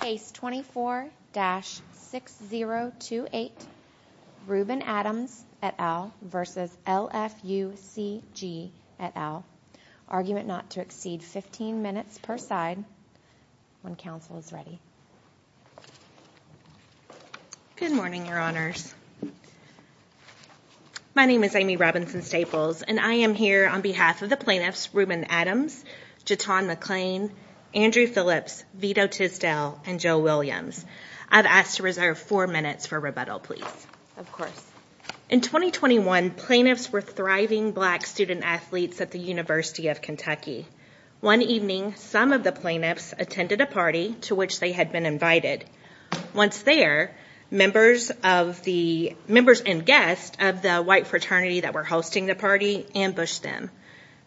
Case 24-6028, Reuben Adams et al. v. LFUCG et al. Argument not to exceed 15 minutes per side when counsel is ready. Good morning, your honors. My name is Amy Robinson-Staples, and I am here on behalf of the plaintiffs Reuben Adams, J'Ton McClain, Andrew Phillips, Vito Tisdale, and Joe Williams. I've asked to reserve four minutes for rebuttal, please. Of course. In 2021, plaintiffs were thriving black student-athletes at the University of Kentucky. One evening, some of the plaintiffs attended a party to which they had been invited. Once there, members and guests of the white fraternity that were hosting the party ambushed them,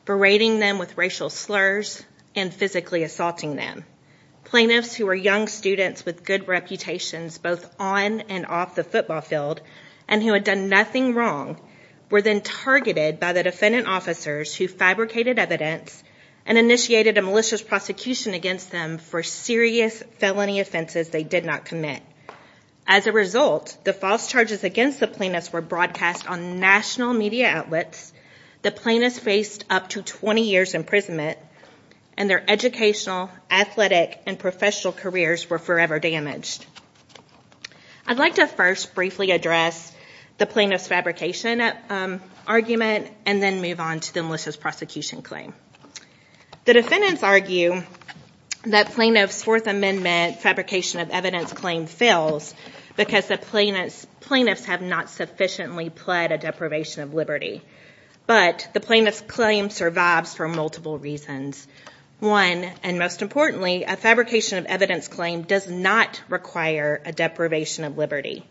berating them with racial slurs and physically assaulting them. Plaintiffs who were young students with good reputations both on and off the football field, and who had done nothing wrong, were then targeted by the defendant officers who fabricated evidence and initiated a malicious prosecution against them for serious felony offenses they did not commit. As a result, the false charges against the plaintiffs were broadcast on national media outlets. The plaintiffs faced up to 20 years imprisonment, and their educational, athletic, and professional careers were forever damaged. I'd like to first briefly address the plaintiff's fabrication argument, and then move on to the malicious prosecution claim. The defendants argue that plaintiff's Fourth Amendment fabrication of evidence claim fails because the plaintiffs have not sufficiently pled a deprivation of liberty. But the plaintiff's claim survives for multiple reasons. One, and most importantly, a fabrication of evidence claim does not require a deprivation of liberty.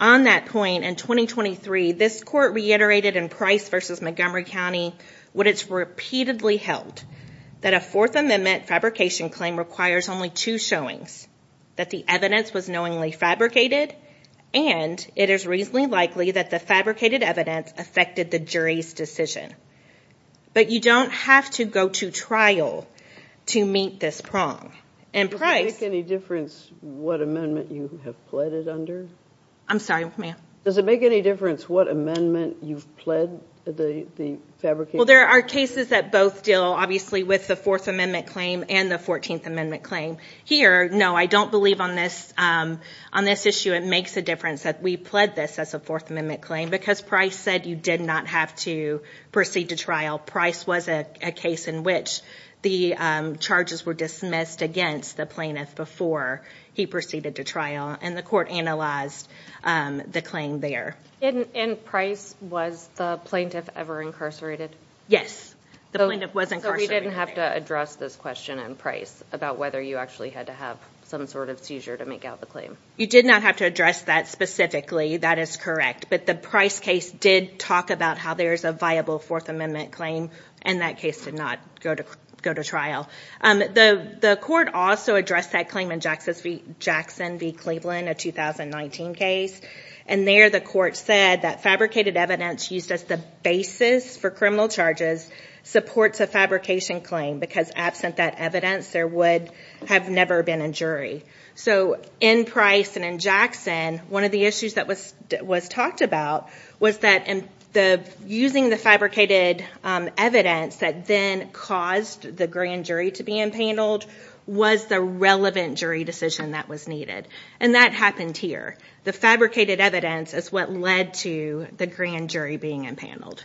On that point, in 2023, this Court reiterated in Price v. Montgomery County what it's repeatedly held, that a Fourth Amendment fabrication claim requires only two showings, that the evidence was knowingly fabricated, and it is reasonably likely that the fabricated evidence affected the jury's decision. But you don't have to go to trial to meet this prong. Does it make any difference what amendment you have pled it under? I'm sorry, ma'am? Does it make any difference what amendment you've pled the fabrication? Well, there are cases that both deal, obviously, with the Fourth Amendment claim and the Fourteenth Amendment claim. Here, no, I don't believe on this issue it makes a difference that we pled this as a Fourth Amendment claim because Price said you did not have to proceed to trial. Price was a case in which the charges were dismissed against the plaintiff before he proceeded to trial, and the Court analyzed the claim there. And Price, was the plaintiff ever incarcerated? Yes, the plaintiff was incarcerated. So we didn't have to address this question in Price about whether you actually had to have some sort of seizure to make out the claim. You did not have to address that specifically, that is correct, but the Price case did talk about how there is a viable Fourth Amendment claim, and that case did not go to trial. The Court also addressed that claim in Jackson v. Cleveland, a 2019 case, and there the Court said that fabricated evidence used as the basis for criminal charges supports a fabrication claim because absent that evidence, there would have never been a jury. So in Price and in Jackson, one of the issues that was talked about was that using the fabricated evidence that then caused the grand jury to be empaneled was the relevant jury decision that was needed. And that happened here. The fabricated evidence is what led to the grand jury being empaneled.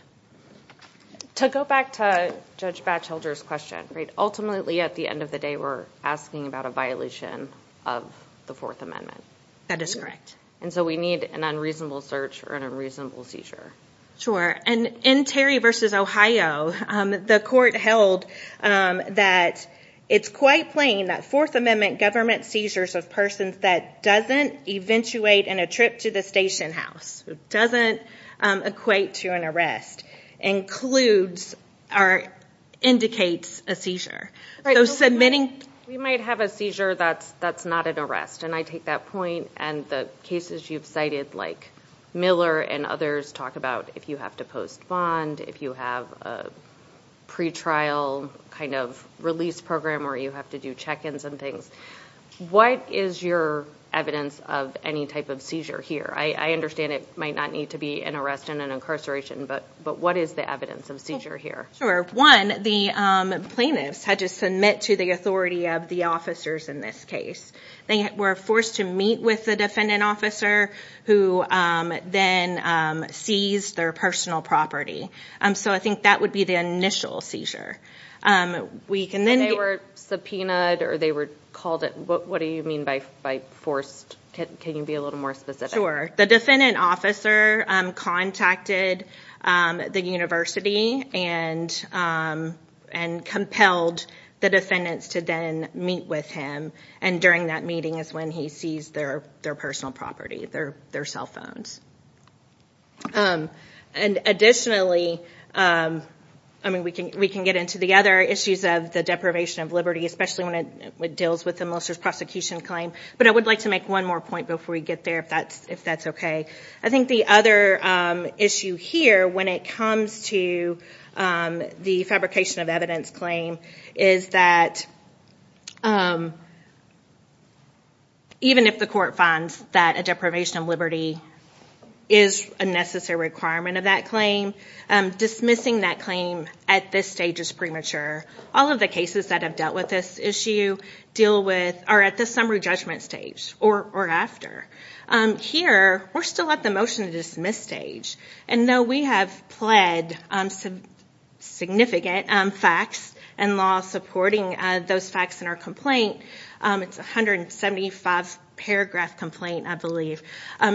To go back to Judge Batchelder's question, ultimately at the end of the day we're asking about a violation of the Fourth Amendment. That is correct. And so we need an unreasonable search or an unreasonable seizure. Sure, and in Terry v. Ohio, the Court held that it's quite plain that Fourth Amendment government seizures of persons that doesn't eventuate in a trip to the station house, who doesn't equate to an arrest, includes or indicates a seizure. We might have a seizure that's not an arrest, and I take that point. And the cases you've cited, like Miller and others, talk about if you have to post bond, if you have a pretrial kind of release program where you have to do check-ins and things. What is your evidence of any type of seizure here? I understand it might not need to be an arrest and an incarceration, but what is the evidence of seizure here? One, the plaintiffs had to submit to the authority of the officers in this case. They were forced to meet with the defendant officer, who then seized their personal property. So I think that would be the initial seizure. And they were subpoenaed or they were called, what do you mean by forced? Can you be a little more specific? Sure. The defendant officer contacted the university and compelled the defendants to then meet with him. And during that meeting is when he seized their personal property, their cell phones. And additionally, we can get into the other issues of the deprivation of liberty, especially when it deals with the molester's prosecution claim. But I would like to make one more point before we get there, if that's okay. I think the other issue here, when it comes to the fabrication of evidence claim, is that even if the court finds that a deprivation of liberty is a necessary requirement of that claim, dismissing that claim at this stage is premature. All of the cases that have dealt with this issue are at the summary judgment stage or after. Here, we're still at the motion to dismiss stage. And though we have pled significant facts and law supporting those facts in our complaint, it's a 175-paragraph complaint, I believe.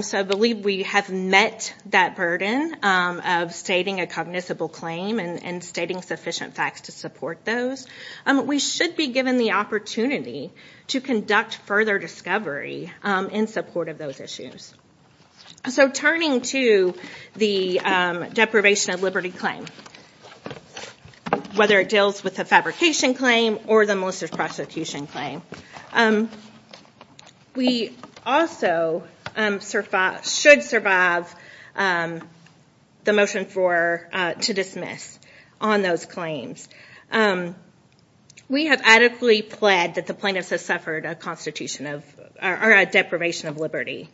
So I believe we have met that burden of stating a cognizable claim and stating sufficient facts to support those. We should be given the opportunity to conduct further discovery in support of those issues. So turning to the deprivation of liberty claim, whether it deals with the fabrication claim or the molester's prosecution claim, we also should survive the motion to dismiss on those claims. We have adequately pled that the plaintiffs have suffered a deprivation of liberty.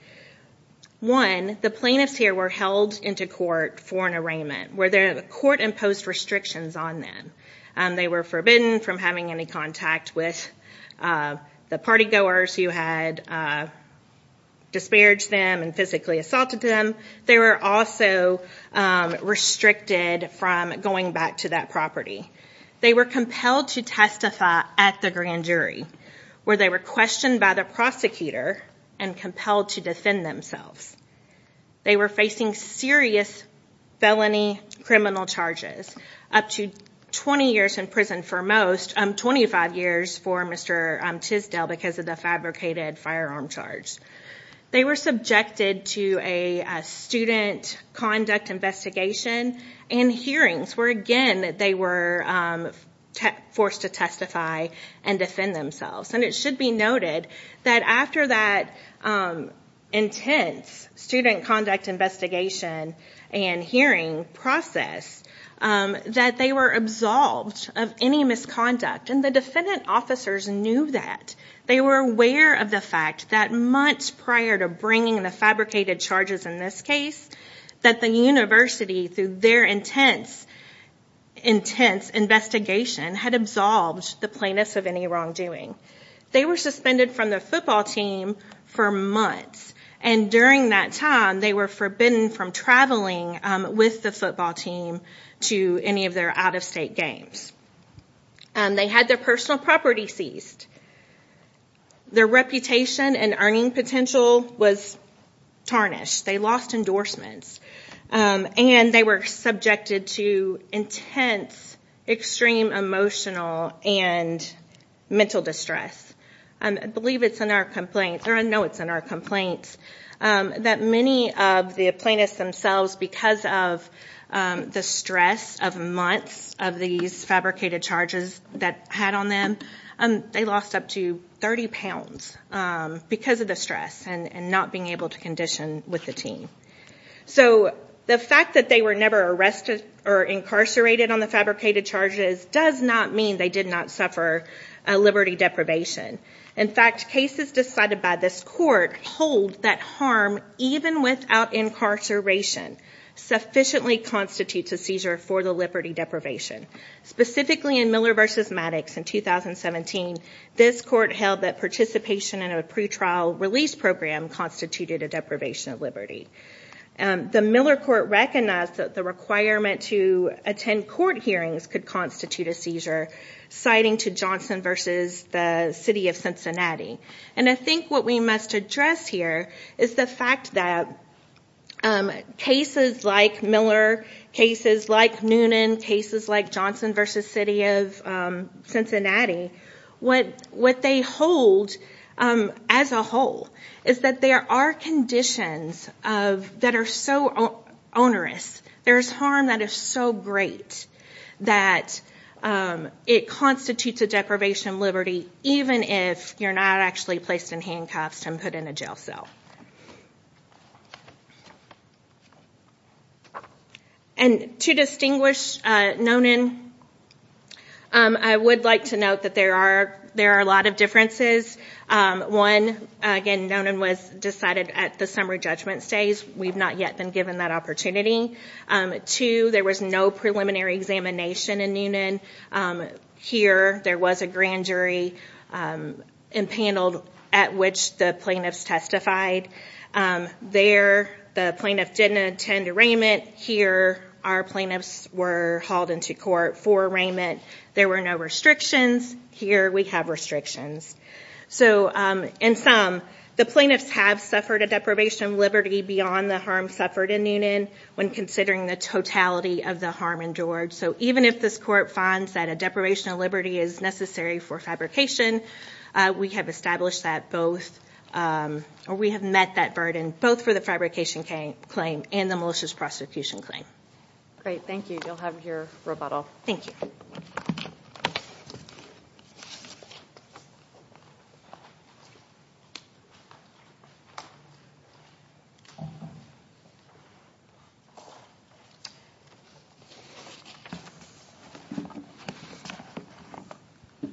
One, the plaintiffs here were held into court for an arraignment where the court imposed restrictions on them. They were forbidden from having any contact with the party goers who had disparaged them and physically assaulted them. They were also restricted from going back to that property. They were compelled to testify at the grand jury where they were questioned by the prosecutor and compelled to defend themselves. They were facing serious felony criminal charges, up to 20 years in prison for most, 25 years for Mr. Tisdale because of the fabricated firearm charge. They were subjected to a student conduct investigation and hearings where, again, they were forced to testify and defend themselves. It should be noted that after that intense student conduct investigation and hearing process that they were absolved of any misconduct. The defendant officers knew that. They were aware of the fact that months prior to bringing the fabricated charges in this case, that the university, through their intense investigation, had absolved the plaintiffs of any wrongdoing. They were suspended from the football team for months. During that time, they were forbidden from traveling with the football team to any of their out-of-state games. They had their personal property seized. Their reputation and earning potential was tarnished. They lost endorsements. They were subjected to intense, extreme emotional and mental distress. I know it's in our complaints that many of the plaintiffs themselves, because of the stress of months of these fabricated charges that had on them, they lost up to 30 pounds because of the stress and not being able to condition with the team. The fact that they were never arrested or incarcerated on the fabricated charges does not mean they did not suffer a liberty deprivation. In fact, cases decided by this court hold that harm, even without incarceration, sufficiently constitutes a seizure for the liberty deprivation. Specifically in Miller v. Maddox in 2017, this court held that participation in a pretrial release program constituted a deprivation of liberty. The Miller court recognized that the requirement to attend court hearings could constitute a seizure, citing to Johnson v. the city of Cincinnati. I think what we must address here is the fact that cases like Miller, cases like Noonan, cases like Johnson v. the city of Cincinnati, what they hold as a whole is that there are conditions that are so onerous. There is harm that is so great that it constitutes a deprivation of liberty, even if you're not actually placed in handcuffs and put in a jail cell. To distinguish Noonan, I would like to note that there are a lot of differences. One, Noonan was decided at the summary judgment stage. We've not yet been given that opportunity. Two, there was no preliminary examination in Noonan. Here, there was a grand jury panel at which the plaintiffs testified. There, the plaintiff didn't attend arraignment. Here, our plaintiffs were hauled into court for arraignment. There were no restrictions. Here, we have restrictions. In sum, the plaintiffs have suffered a deprivation of liberty beyond the harm suffered in Noonan, when considering the totality of the harm endured. Even if this court finds that a deprivation of liberty is necessary for fabrication, we have established that burden, both for the fabrication claim and the malicious prosecution claim. Great. Thank you. You'll have your rebuttal. Thank you.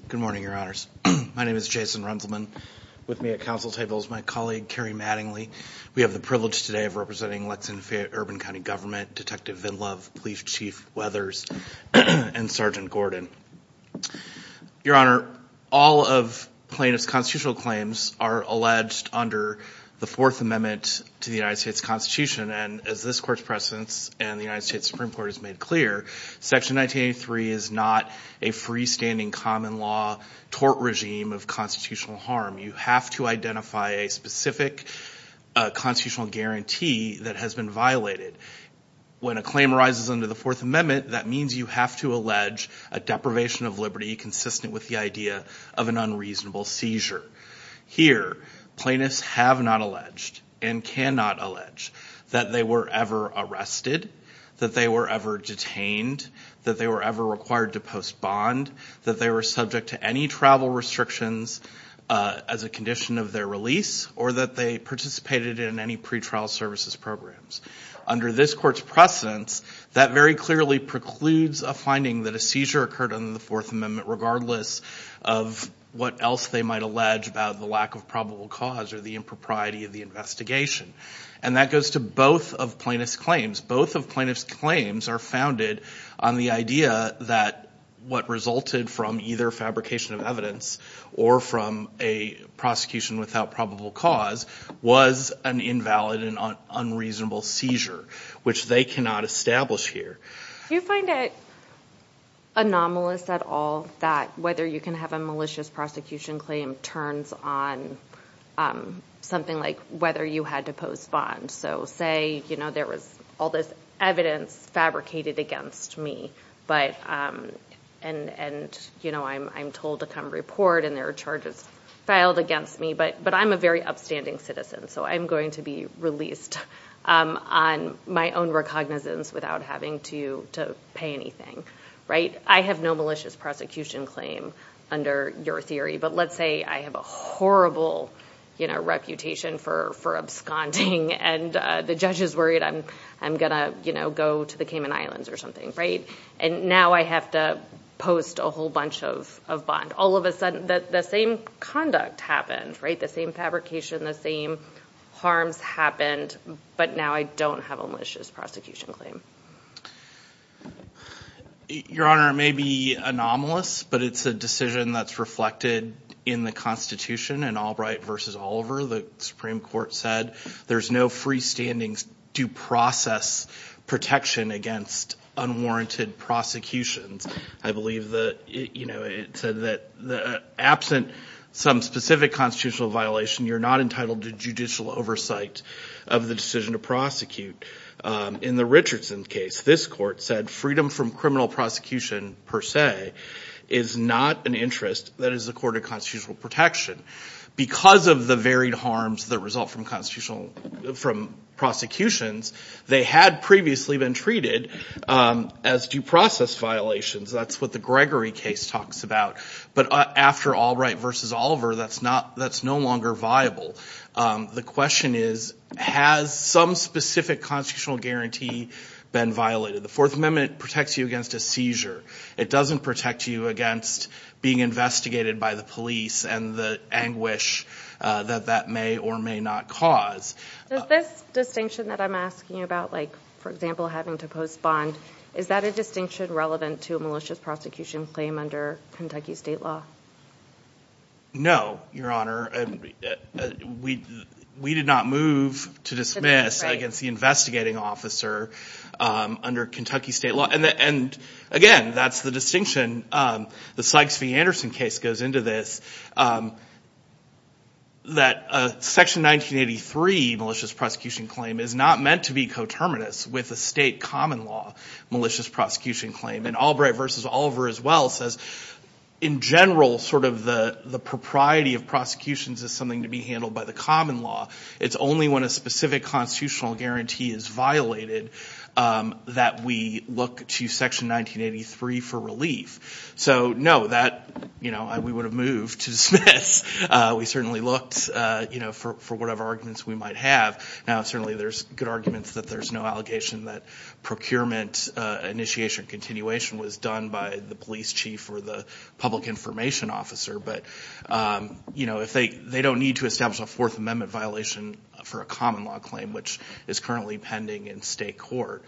Good morning, Your Honors. My name is Jason Runzelman. With me at council table is my colleague, Kerry Mattingly. We have the privilege today of representing Lexington-Fayette-Urban County Government, Detective Vin Love, Police Chief Weathers, and Sergeant Gordon. Your Honor, all of plaintiff's constitutional claims are alleged under the Fourth Amendment to the United States Constitution. As this court's precedents and the United States Supreme Court has made clear, Section 1983 is not a freestanding common law tort regime of constitutional harm. You have to identify a specific constitutional guarantee that has been violated. When a claim arises under the Fourth Amendment, that means you have to allege a deprivation of liberty consistent with the idea of an unreasonable seizure. Here, plaintiffs have not alleged and cannot allege that they were ever arrested, that they were ever detained, that they were ever required to post bond, that they were subject to any travel restrictions as a condition of their release, or that they participated in any pretrial services programs. Under this court's precedents, that very clearly precludes a finding that a seizure occurred under the Fourth Amendment, regardless of what else they might allege about the lack of probable cause or the impropriety of the investigation. And that goes to both of plaintiff's claims. Both of plaintiff's claims are founded on the idea that what resulted from either fabrication of evidence or from a prosecution without probable cause was an invalid and unreasonable seizure, which they cannot establish here. Do you find it anomalous at all that whether you can have a malicious prosecution claim turns on something like whether you had to post bond? So say there was all this evidence fabricated against me, and I'm told to come report and there are charges filed against me, but I'm a very upstanding citizen, so I'm going to be released on my own recognizance without having to pay anything. I have no malicious prosecution claim under your theory. But let's say I have a horrible reputation for absconding, and the judge is worried I'm going to go to the Cayman Islands or something. And now I have to post a whole bunch of bond. All of a sudden, the same conduct happened, the same fabrication, the same harms happened, but now I don't have a malicious prosecution claim. Your Honor, it may be anomalous, but it's a decision that's reflected in the Constitution. In Albright v. Oliver, the Supreme Court said there's no freestandings to process protection against unwarranted prosecutions. I believe it said that absent some specific constitutional violation, you're not entitled to judicial oversight of the decision to prosecute. In the Richardson case, this court said freedom from criminal prosecution per se is not an interest that is the court of constitutional protection. Because of the varied harms that result from prosecutions, they had previously been treated as due process violations. That's what the Gregory case talks about. But after Allbright v. Oliver, that's no longer viable. The question is, has some specific constitutional guarantee been violated? The Fourth Amendment protects you against a seizure. It doesn't protect you against being investigated by the police and the anguish that that may or may not cause. Does this distinction that I'm asking about, like, for example, having to post bond, is that a distinction relevant to a malicious prosecution claim under Kentucky state law? No, Your Honor. We did not move to dismiss against the investigating officer under Kentucky state law. And again, that's the distinction. The Sykes v. Anderson case goes into this, that Section 1983 malicious prosecution claim is not meant to be coterminous with a state common law malicious prosecution claim. And Allbright v. Oliver as well says, in general, sort of the propriety of prosecutions is something to be handled by the common law. It's only when a specific constitutional guarantee is violated that we look to Section 1983 for relief. So, no, that, you know, we would have moved to dismiss. We certainly looked, you know, for whatever arguments we might have. Now, certainly there's good arguments that there's no allegation that procurement initiation and continuation was done by the police chief or the public information officer. But, you know, they don't need to establish a Fourth Amendment violation for a common law claim, which is currently pending in state court.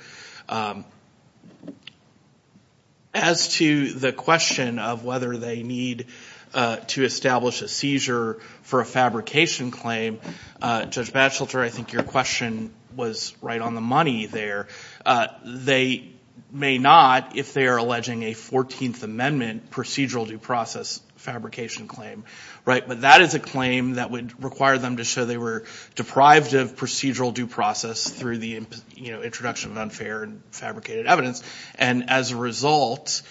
As to the question of whether they need to establish a seizure for a fabrication claim, Judge Batchelder, I think your question was right on the money there. They may not if they are alleging a 14th Amendment procedural due process fabrication claim. But that is a claim that would require them to show they were deprived of procedural due process through the introduction of unfair and fabricated evidence. And as a result,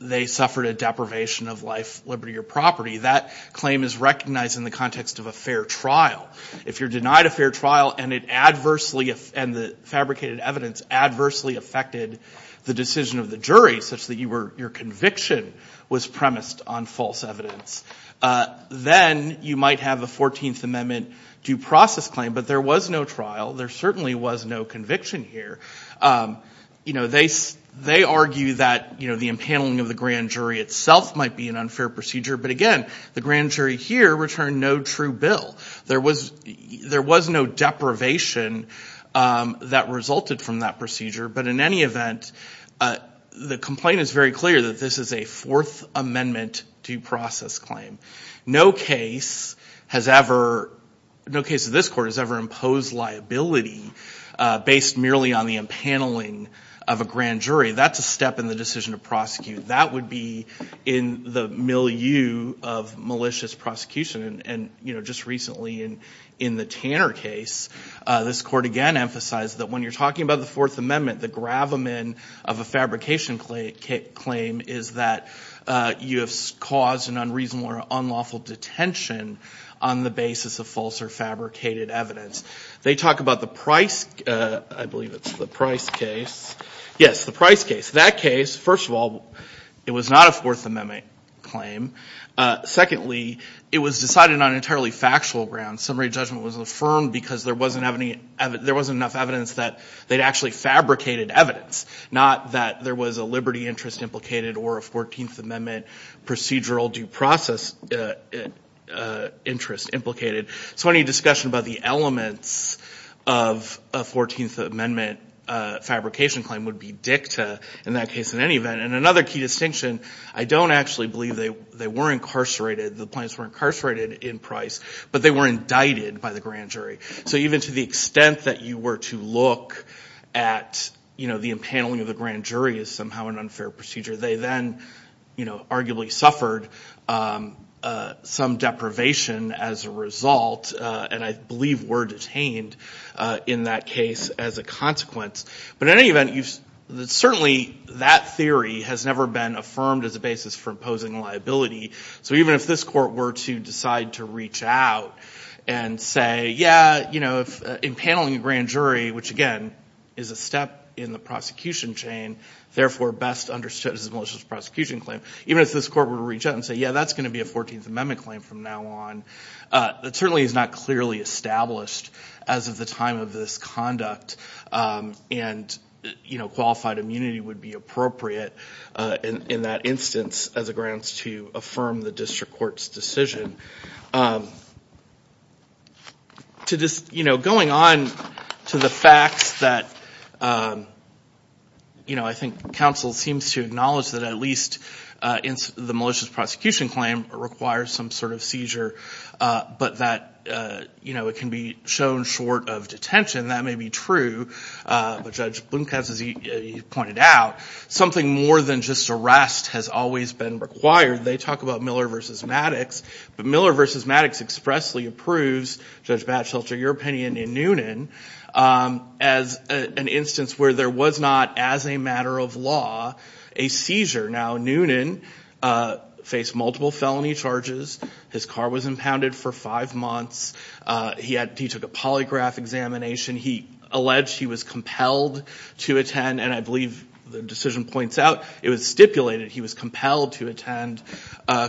they suffered a deprivation of life, liberty, or property. That claim is recognized in the context of a fair trial. If you're denied a fair trial and the fabricated evidence adversely affected the decision of the jury, such that your conviction was premised on false evidence, then you might have a 14th Amendment due process claim. But there was no trial. There certainly was no conviction here. You know, they argue that, you know, the impaneling of the grand jury itself might be an unfair procedure. But, again, the grand jury here returned no true bill. There was no deprivation that resulted from that procedure. But in any event, the complaint is very clear that this is a Fourth Amendment due process claim. No case has ever – no case of this court has ever imposed liability based merely on the impaneling of a grand jury. That's a step in the decision to prosecute. That would be in the milieu of malicious prosecution. And, you know, just recently in the Tanner case, this court again emphasized that when you're talking about the Fourth Amendment, the gravamen of a fabrication claim is that you have caused an unreasonable or unlawful detention on the basis of false or fabricated evidence. They talk about the Price – I believe it's the Price case. Yes, the Price case. In that case, first of all, it was not a Fourth Amendment claim. Secondly, it was decided on entirely factual grounds. Summary judgment was affirmed because there wasn't enough evidence that they'd actually fabricated evidence, not that there was a liberty interest implicated or a Fourteenth Amendment procedural due process interest implicated. So any discussion about the elements of a Fourteenth Amendment fabrication claim would be dicta in that case in any event. And another key distinction, I don't actually believe they were incarcerated. The plaintiffs were incarcerated in Price, but they were indicted by the grand jury. So even to the extent that you were to look at, you know, the impaneling of the grand jury as somehow an unfair procedure, they then, you know, arguably suffered some deprivation as a result and I believe were detained in that case as a consequence. But in any event, certainly that theory has never been affirmed as a basis for imposing liability. So even if this court were to decide to reach out and say, yeah, you know, impaneling the grand jury, which again is a step in the prosecution chain, therefore best understood as a malicious prosecution claim, even if this court were to reach out and say, yeah, that's going to be a Fourteenth Amendment claim from now on, it certainly is not clearly established as of the time of this conduct. And, you know, qualified immunity would be appropriate in that instance as a grounds to affirm the district court's decision. To this, you know, going on to the facts that, you know, I think counsel seems to acknowledge that at least the malicious prosecution claim requires some sort of seizure, but that, you know, it can be shown short of detention. That may be true, but Judge Blomkamp, as he pointed out, something more than just arrest has always been required. They talk about Miller v. Maddox, but Miller v. Maddox expressly approves, Judge Batchelter, your opinion in Noonan, as an instance where there was not, as a matter of law, a seizure. Now, Noonan faced multiple felony charges. His car was impounded for five months. He took a polygraph examination. He alleged he was compelled to attend, and I believe the decision points out it was stipulated he was compelled to attend.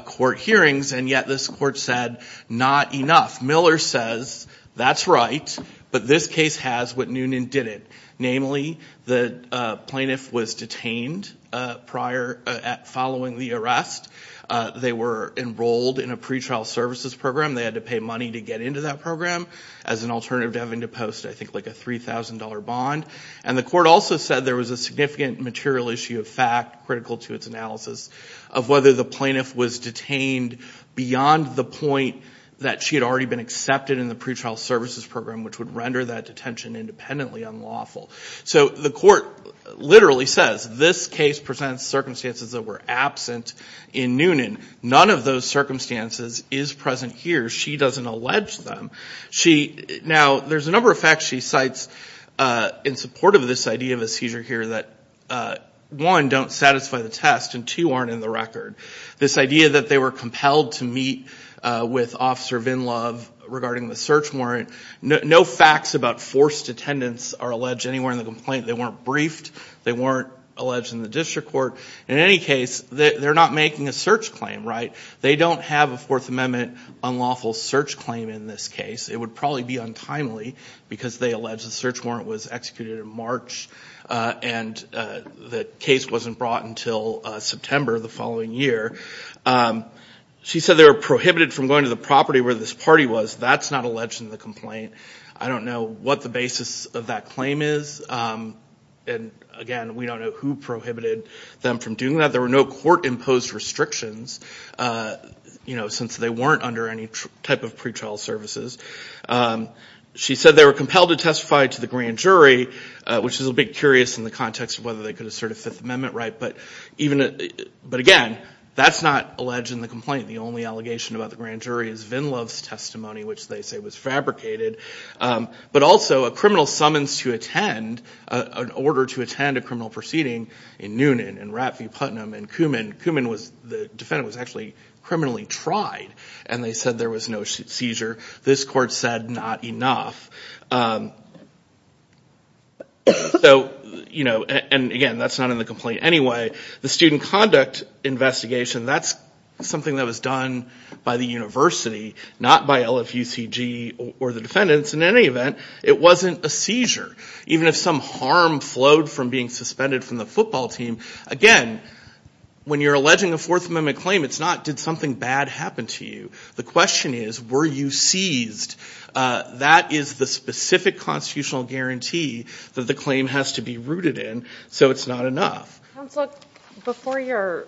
Court hearings, and yet this court said not enough. Miller says that's right, but this case has what Noonan didn't. Namely, the plaintiff was detained prior, following the arrest. They were enrolled in a pretrial services program. They had to pay money to get into that program as an alternative to having to post, I think, like a $3,000 bond. And the court also said there was a significant material issue of fact, critical to its analysis, of whether the plaintiff was detained beyond the point that she had already been accepted in the pretrial services program, which would render that detention independently unlawful. So the court literally says this case presents circumstances that were absent in Noonan. None of those circumstances is present here. She doesn't allege them. Now, there's a number of facts she cites in support of this idea of a seizure here that, one, don't satisfy the test, and two, aren't in the record. This idea that they were compelled to meet with Officer Vinlove regarding the search warrant. No facts about forced attendance are alleged anywhere in the complaint. They weren't briefed. They weren't alleged in the district court. In any case, they're not making a search claim, right? They don't have a Fourth Amendment unlawful search claim in this case. It would probably be untimely because they allege the search warrant was executed in March and the case wasn't brought until September of the following year. She said they were prohibited from going to the property where this party was. That's not alleged in the complaint. I don't know what the basis of that claim is. And, again, we don't know who prohibited them from doing that. She said there were no court-imposed restrictions since they weren't under any type of pretrial services. She said they were compelled to testify to the grand jury, which is a bit curious in the context of whether they could assert a Fifth Amendment right. But, again, that's not alleged in the complaint. The only allegation about the grand jury is Vinlove's testimony, which they say was fabricated. But, also, a criminal summons to attend, an order to attend a criminal proceeding in Noonan and Rathvee Putnam and Koomen. Koomen, the defendant, was actually criminally tried, and they said there was no seizure. This court said not enough. And, again, that's not in the complaint anyway. The student conduct investigation, that's something that was done by the university, not by LFUCG or the defendants. In any event, it wasn't a seizure. Even if some harm flowed from being suspended from the football team, again, when you're alleging a Fourth Amendment claim, it's not, did something bad happen to you? The question is, were you seized? That is the specific constitutional guarantee that the claim has to be rooted in, so it's not enough. Counselor, before your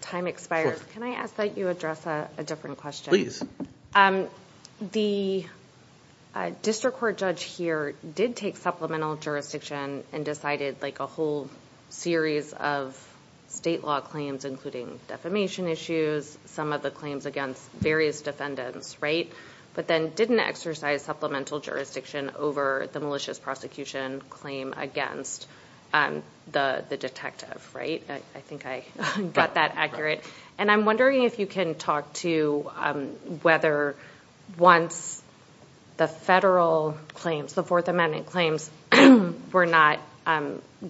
time expires, can I ask that you address a different question? The district court judge here did take supplemental jurisdiction and decided a whole series of state law claims, including defamation issues, some of the claims against various defendants, right? But then didn't exercise supplemental jurisdiction over the malicious prosecution claim against the detective, right? I think I got that accurate. And I'm wondering if you can talk to whether once the federal claims, the Fourth Amendment claims, were not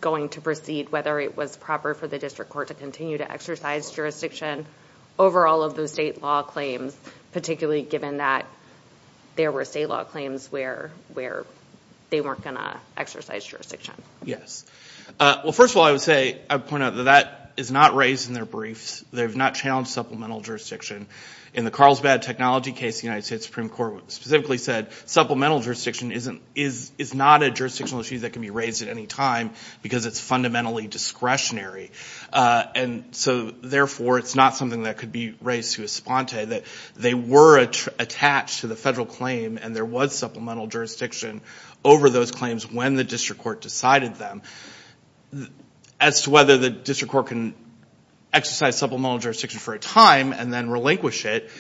going to proceed, whether it was proper for the district court to continue to exercise jurisdiction over all of those state law claims, particularly given that there were state law claims where they weren't going to exercise jurisdiction. Yes. Well, first of all, I would say, I would point out that that is not raised in their briefs. They have not challenged supplemental jurisdiction. In the Carlsbad technology case, the United States Supreme Court specifically said supplemental jurisdiction is not a jurisdictional issue that can be raised at any time because it's fundamentally discretionary. And so, therefore, it's not something that could be raised to esponte, that they were attached to the federal claim and there was supplemental jurisdiction over those claims when the district court decided them. As to whether the district court can exercise supplemental jurisdiction for a time and then relinquish it,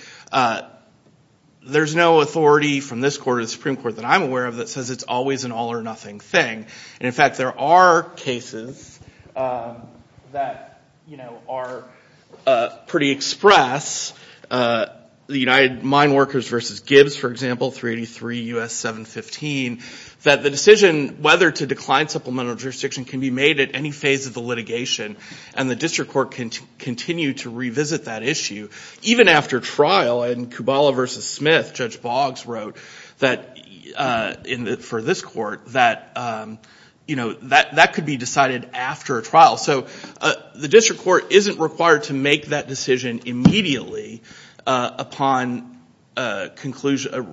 there's no authority from this court or the Supreme Court that I'm aware of that says it's always an all or nothing thing. And, in fact, there are cases that, you know, are pretty express. The United Mine Workers v. Gibbs, for example, 383 U.S. 715, that the decision whether to decline supplemental jurisdiction can be made at any phase of the litigation and the district court can continue to revisit that issue even after trial. In Kubala v. Smith, Judge Boggs wrote for this court that, you know, that could be decided after a trial. So the district court isn't required to make that decision immediately upon a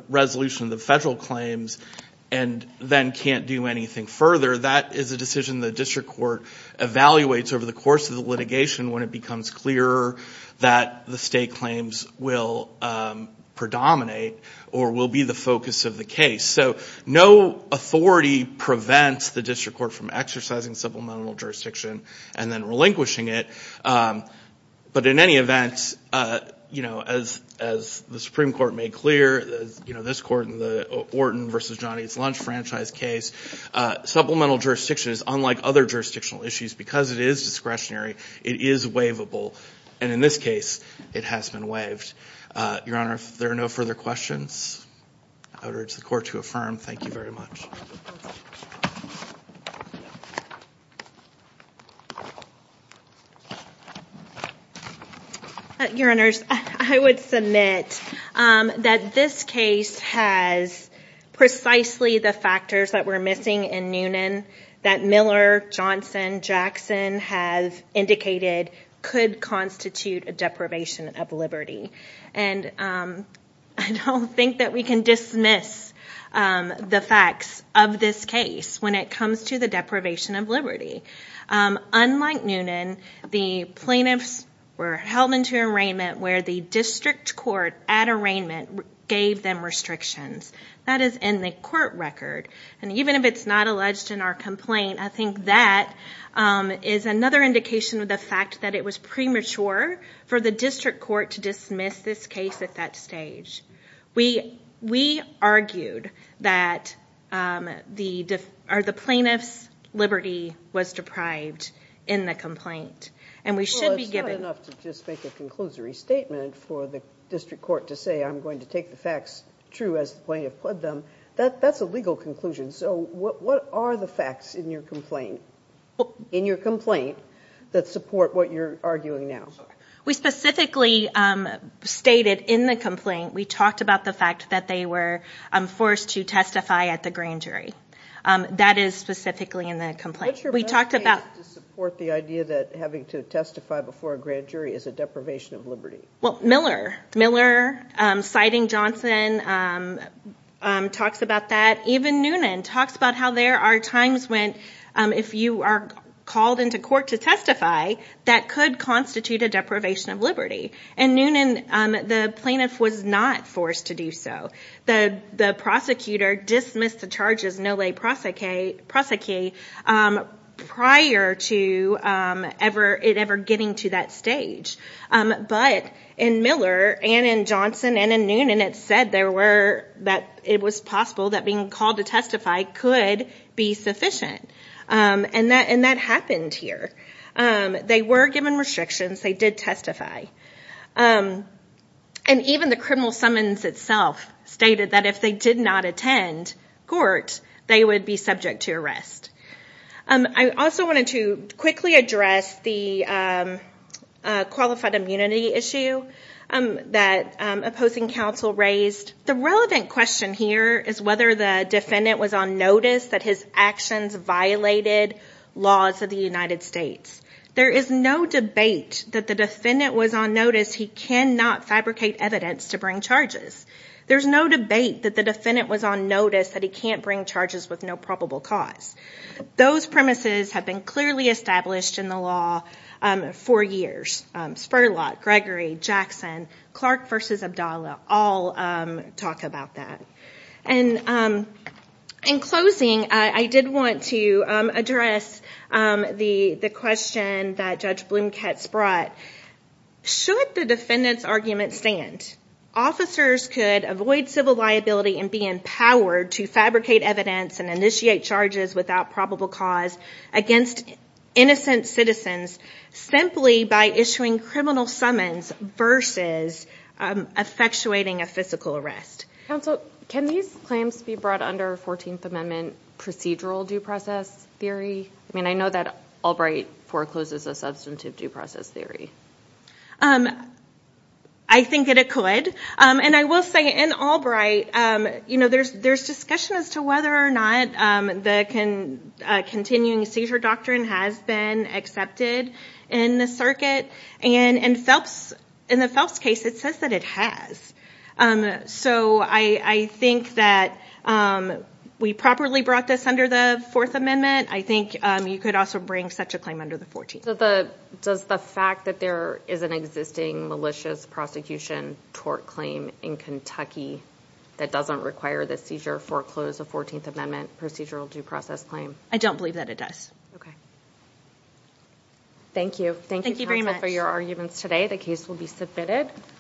resolution of the federal claims and then can't do anything further. That is a decision the district court evaluates over the course of the litigation when it becomes clearer that the state claims will predominate or will be the focus of the case. So no authority prevents the district court from exercising supplemental jurisdiction and then relinquishing it. But in any event, you know, as the Supreme Court made clear, you know, this court in the Orton v. Johnny's Lunch franchise case, supplemental jurisdiction is unlike other jurisdictional issues because it is discretionary. It is waivable. And in this case, it has been waived. Your Honor, if there are no further questions, I would urge the court to affirm. Thank you very much. Your Honors, I would submit that this case has precisely the factors that were missing in Noonan that Miller, Johnson, Jackson have indicated could constitute a deprivation of liberty. And I don't think that we can dismiss the facts of this case when it comes to the deprivation of liberty. Unlike Noonan, the plaintiffs were held into arraignment where the district court at arraignment gave them restrictions. That is in the court record. And even if it's not alleged in our complaint, I think that is another indication of the fact that it was premature for the district court to dismiss this case at that stage. We argued that the plaintiff's liberty was deprived in the complaint. And we should be giving... Well, it's not enough to just make a conclusory statement for the district court to say, I'm going to take the facts true as the plaintiff put them. That's a legal conclusion. So what are the facts in your complaint that support what you're arguing now? We specifically stated in the complaint, we talked about the fact that they were forced to testify at the grand jury. That is specifically in the complaint. What's your best case to support the idea that having to testify before a grand jury is a deprivation of liberty? Well, Miller, citing Johnson, talks about that. Even Noonan talks about how there are times when if you are called into court to testify, that could constitute a deprivation of liberty. And Noonan, the plaintiff was not forced to do so. The prosecutor dismissed the charges, no le prosecute, prior to it ever getting to that stage. But in Miller, and in Johnson, and in Noonan, it said that it was possible that being called to testify could be sufficient. And that happened here. They were given restrictions. They did testify. And even the criminal summons itself stated that if they did not attend court, they would be subject to arrest. I also wanted to quickly address the qualified immunity issue that opposing counsel raised. The relevant question here is whether the defendant was on notice that his actions violated laws of the United States. There is no debate that the defendant was on notice he cannot fabricate evidence to bring charges. There is no debate that the defendant was on notice that he cannot bring charges with no probable cause. Those premises have been clearly established in the law for years. Spurlock, Gregory, Jackson, Clark v. Abdallah all talk about that. In closing, I did want to address the question that Judge Blumkett brought. Should the defendant's argument stand? Officers could avoid civil liability and be empowered to fabricate evidence and initiate charges without probable cause against innocent citizens simply by issuing criminal summons versus effectuating a physical arrest. Counsel, can these claims be brought under 14th Amendment procedural due process theory? I mean, I know that Albright forecloses a substantive due process theory. I think it could. I will say in Albright, there is discussion as to whether or not the continuing seizure doctrine has been accepted in the circuit. In the Phelps case, it says that it has. I think that we properly brought this under the Fourth Amendment. I think you could also bring such a claim under the Fourteenth Amendment. Does the fact that there is an existing malicious prosecution tort claim in Kentucky that doesn't require the seizure foreclose a Fourteenth Amendment procedural due process claim? I don't believe that it does. Okay. Thank you. Thank you very much for your arguments today. The case will be submitted.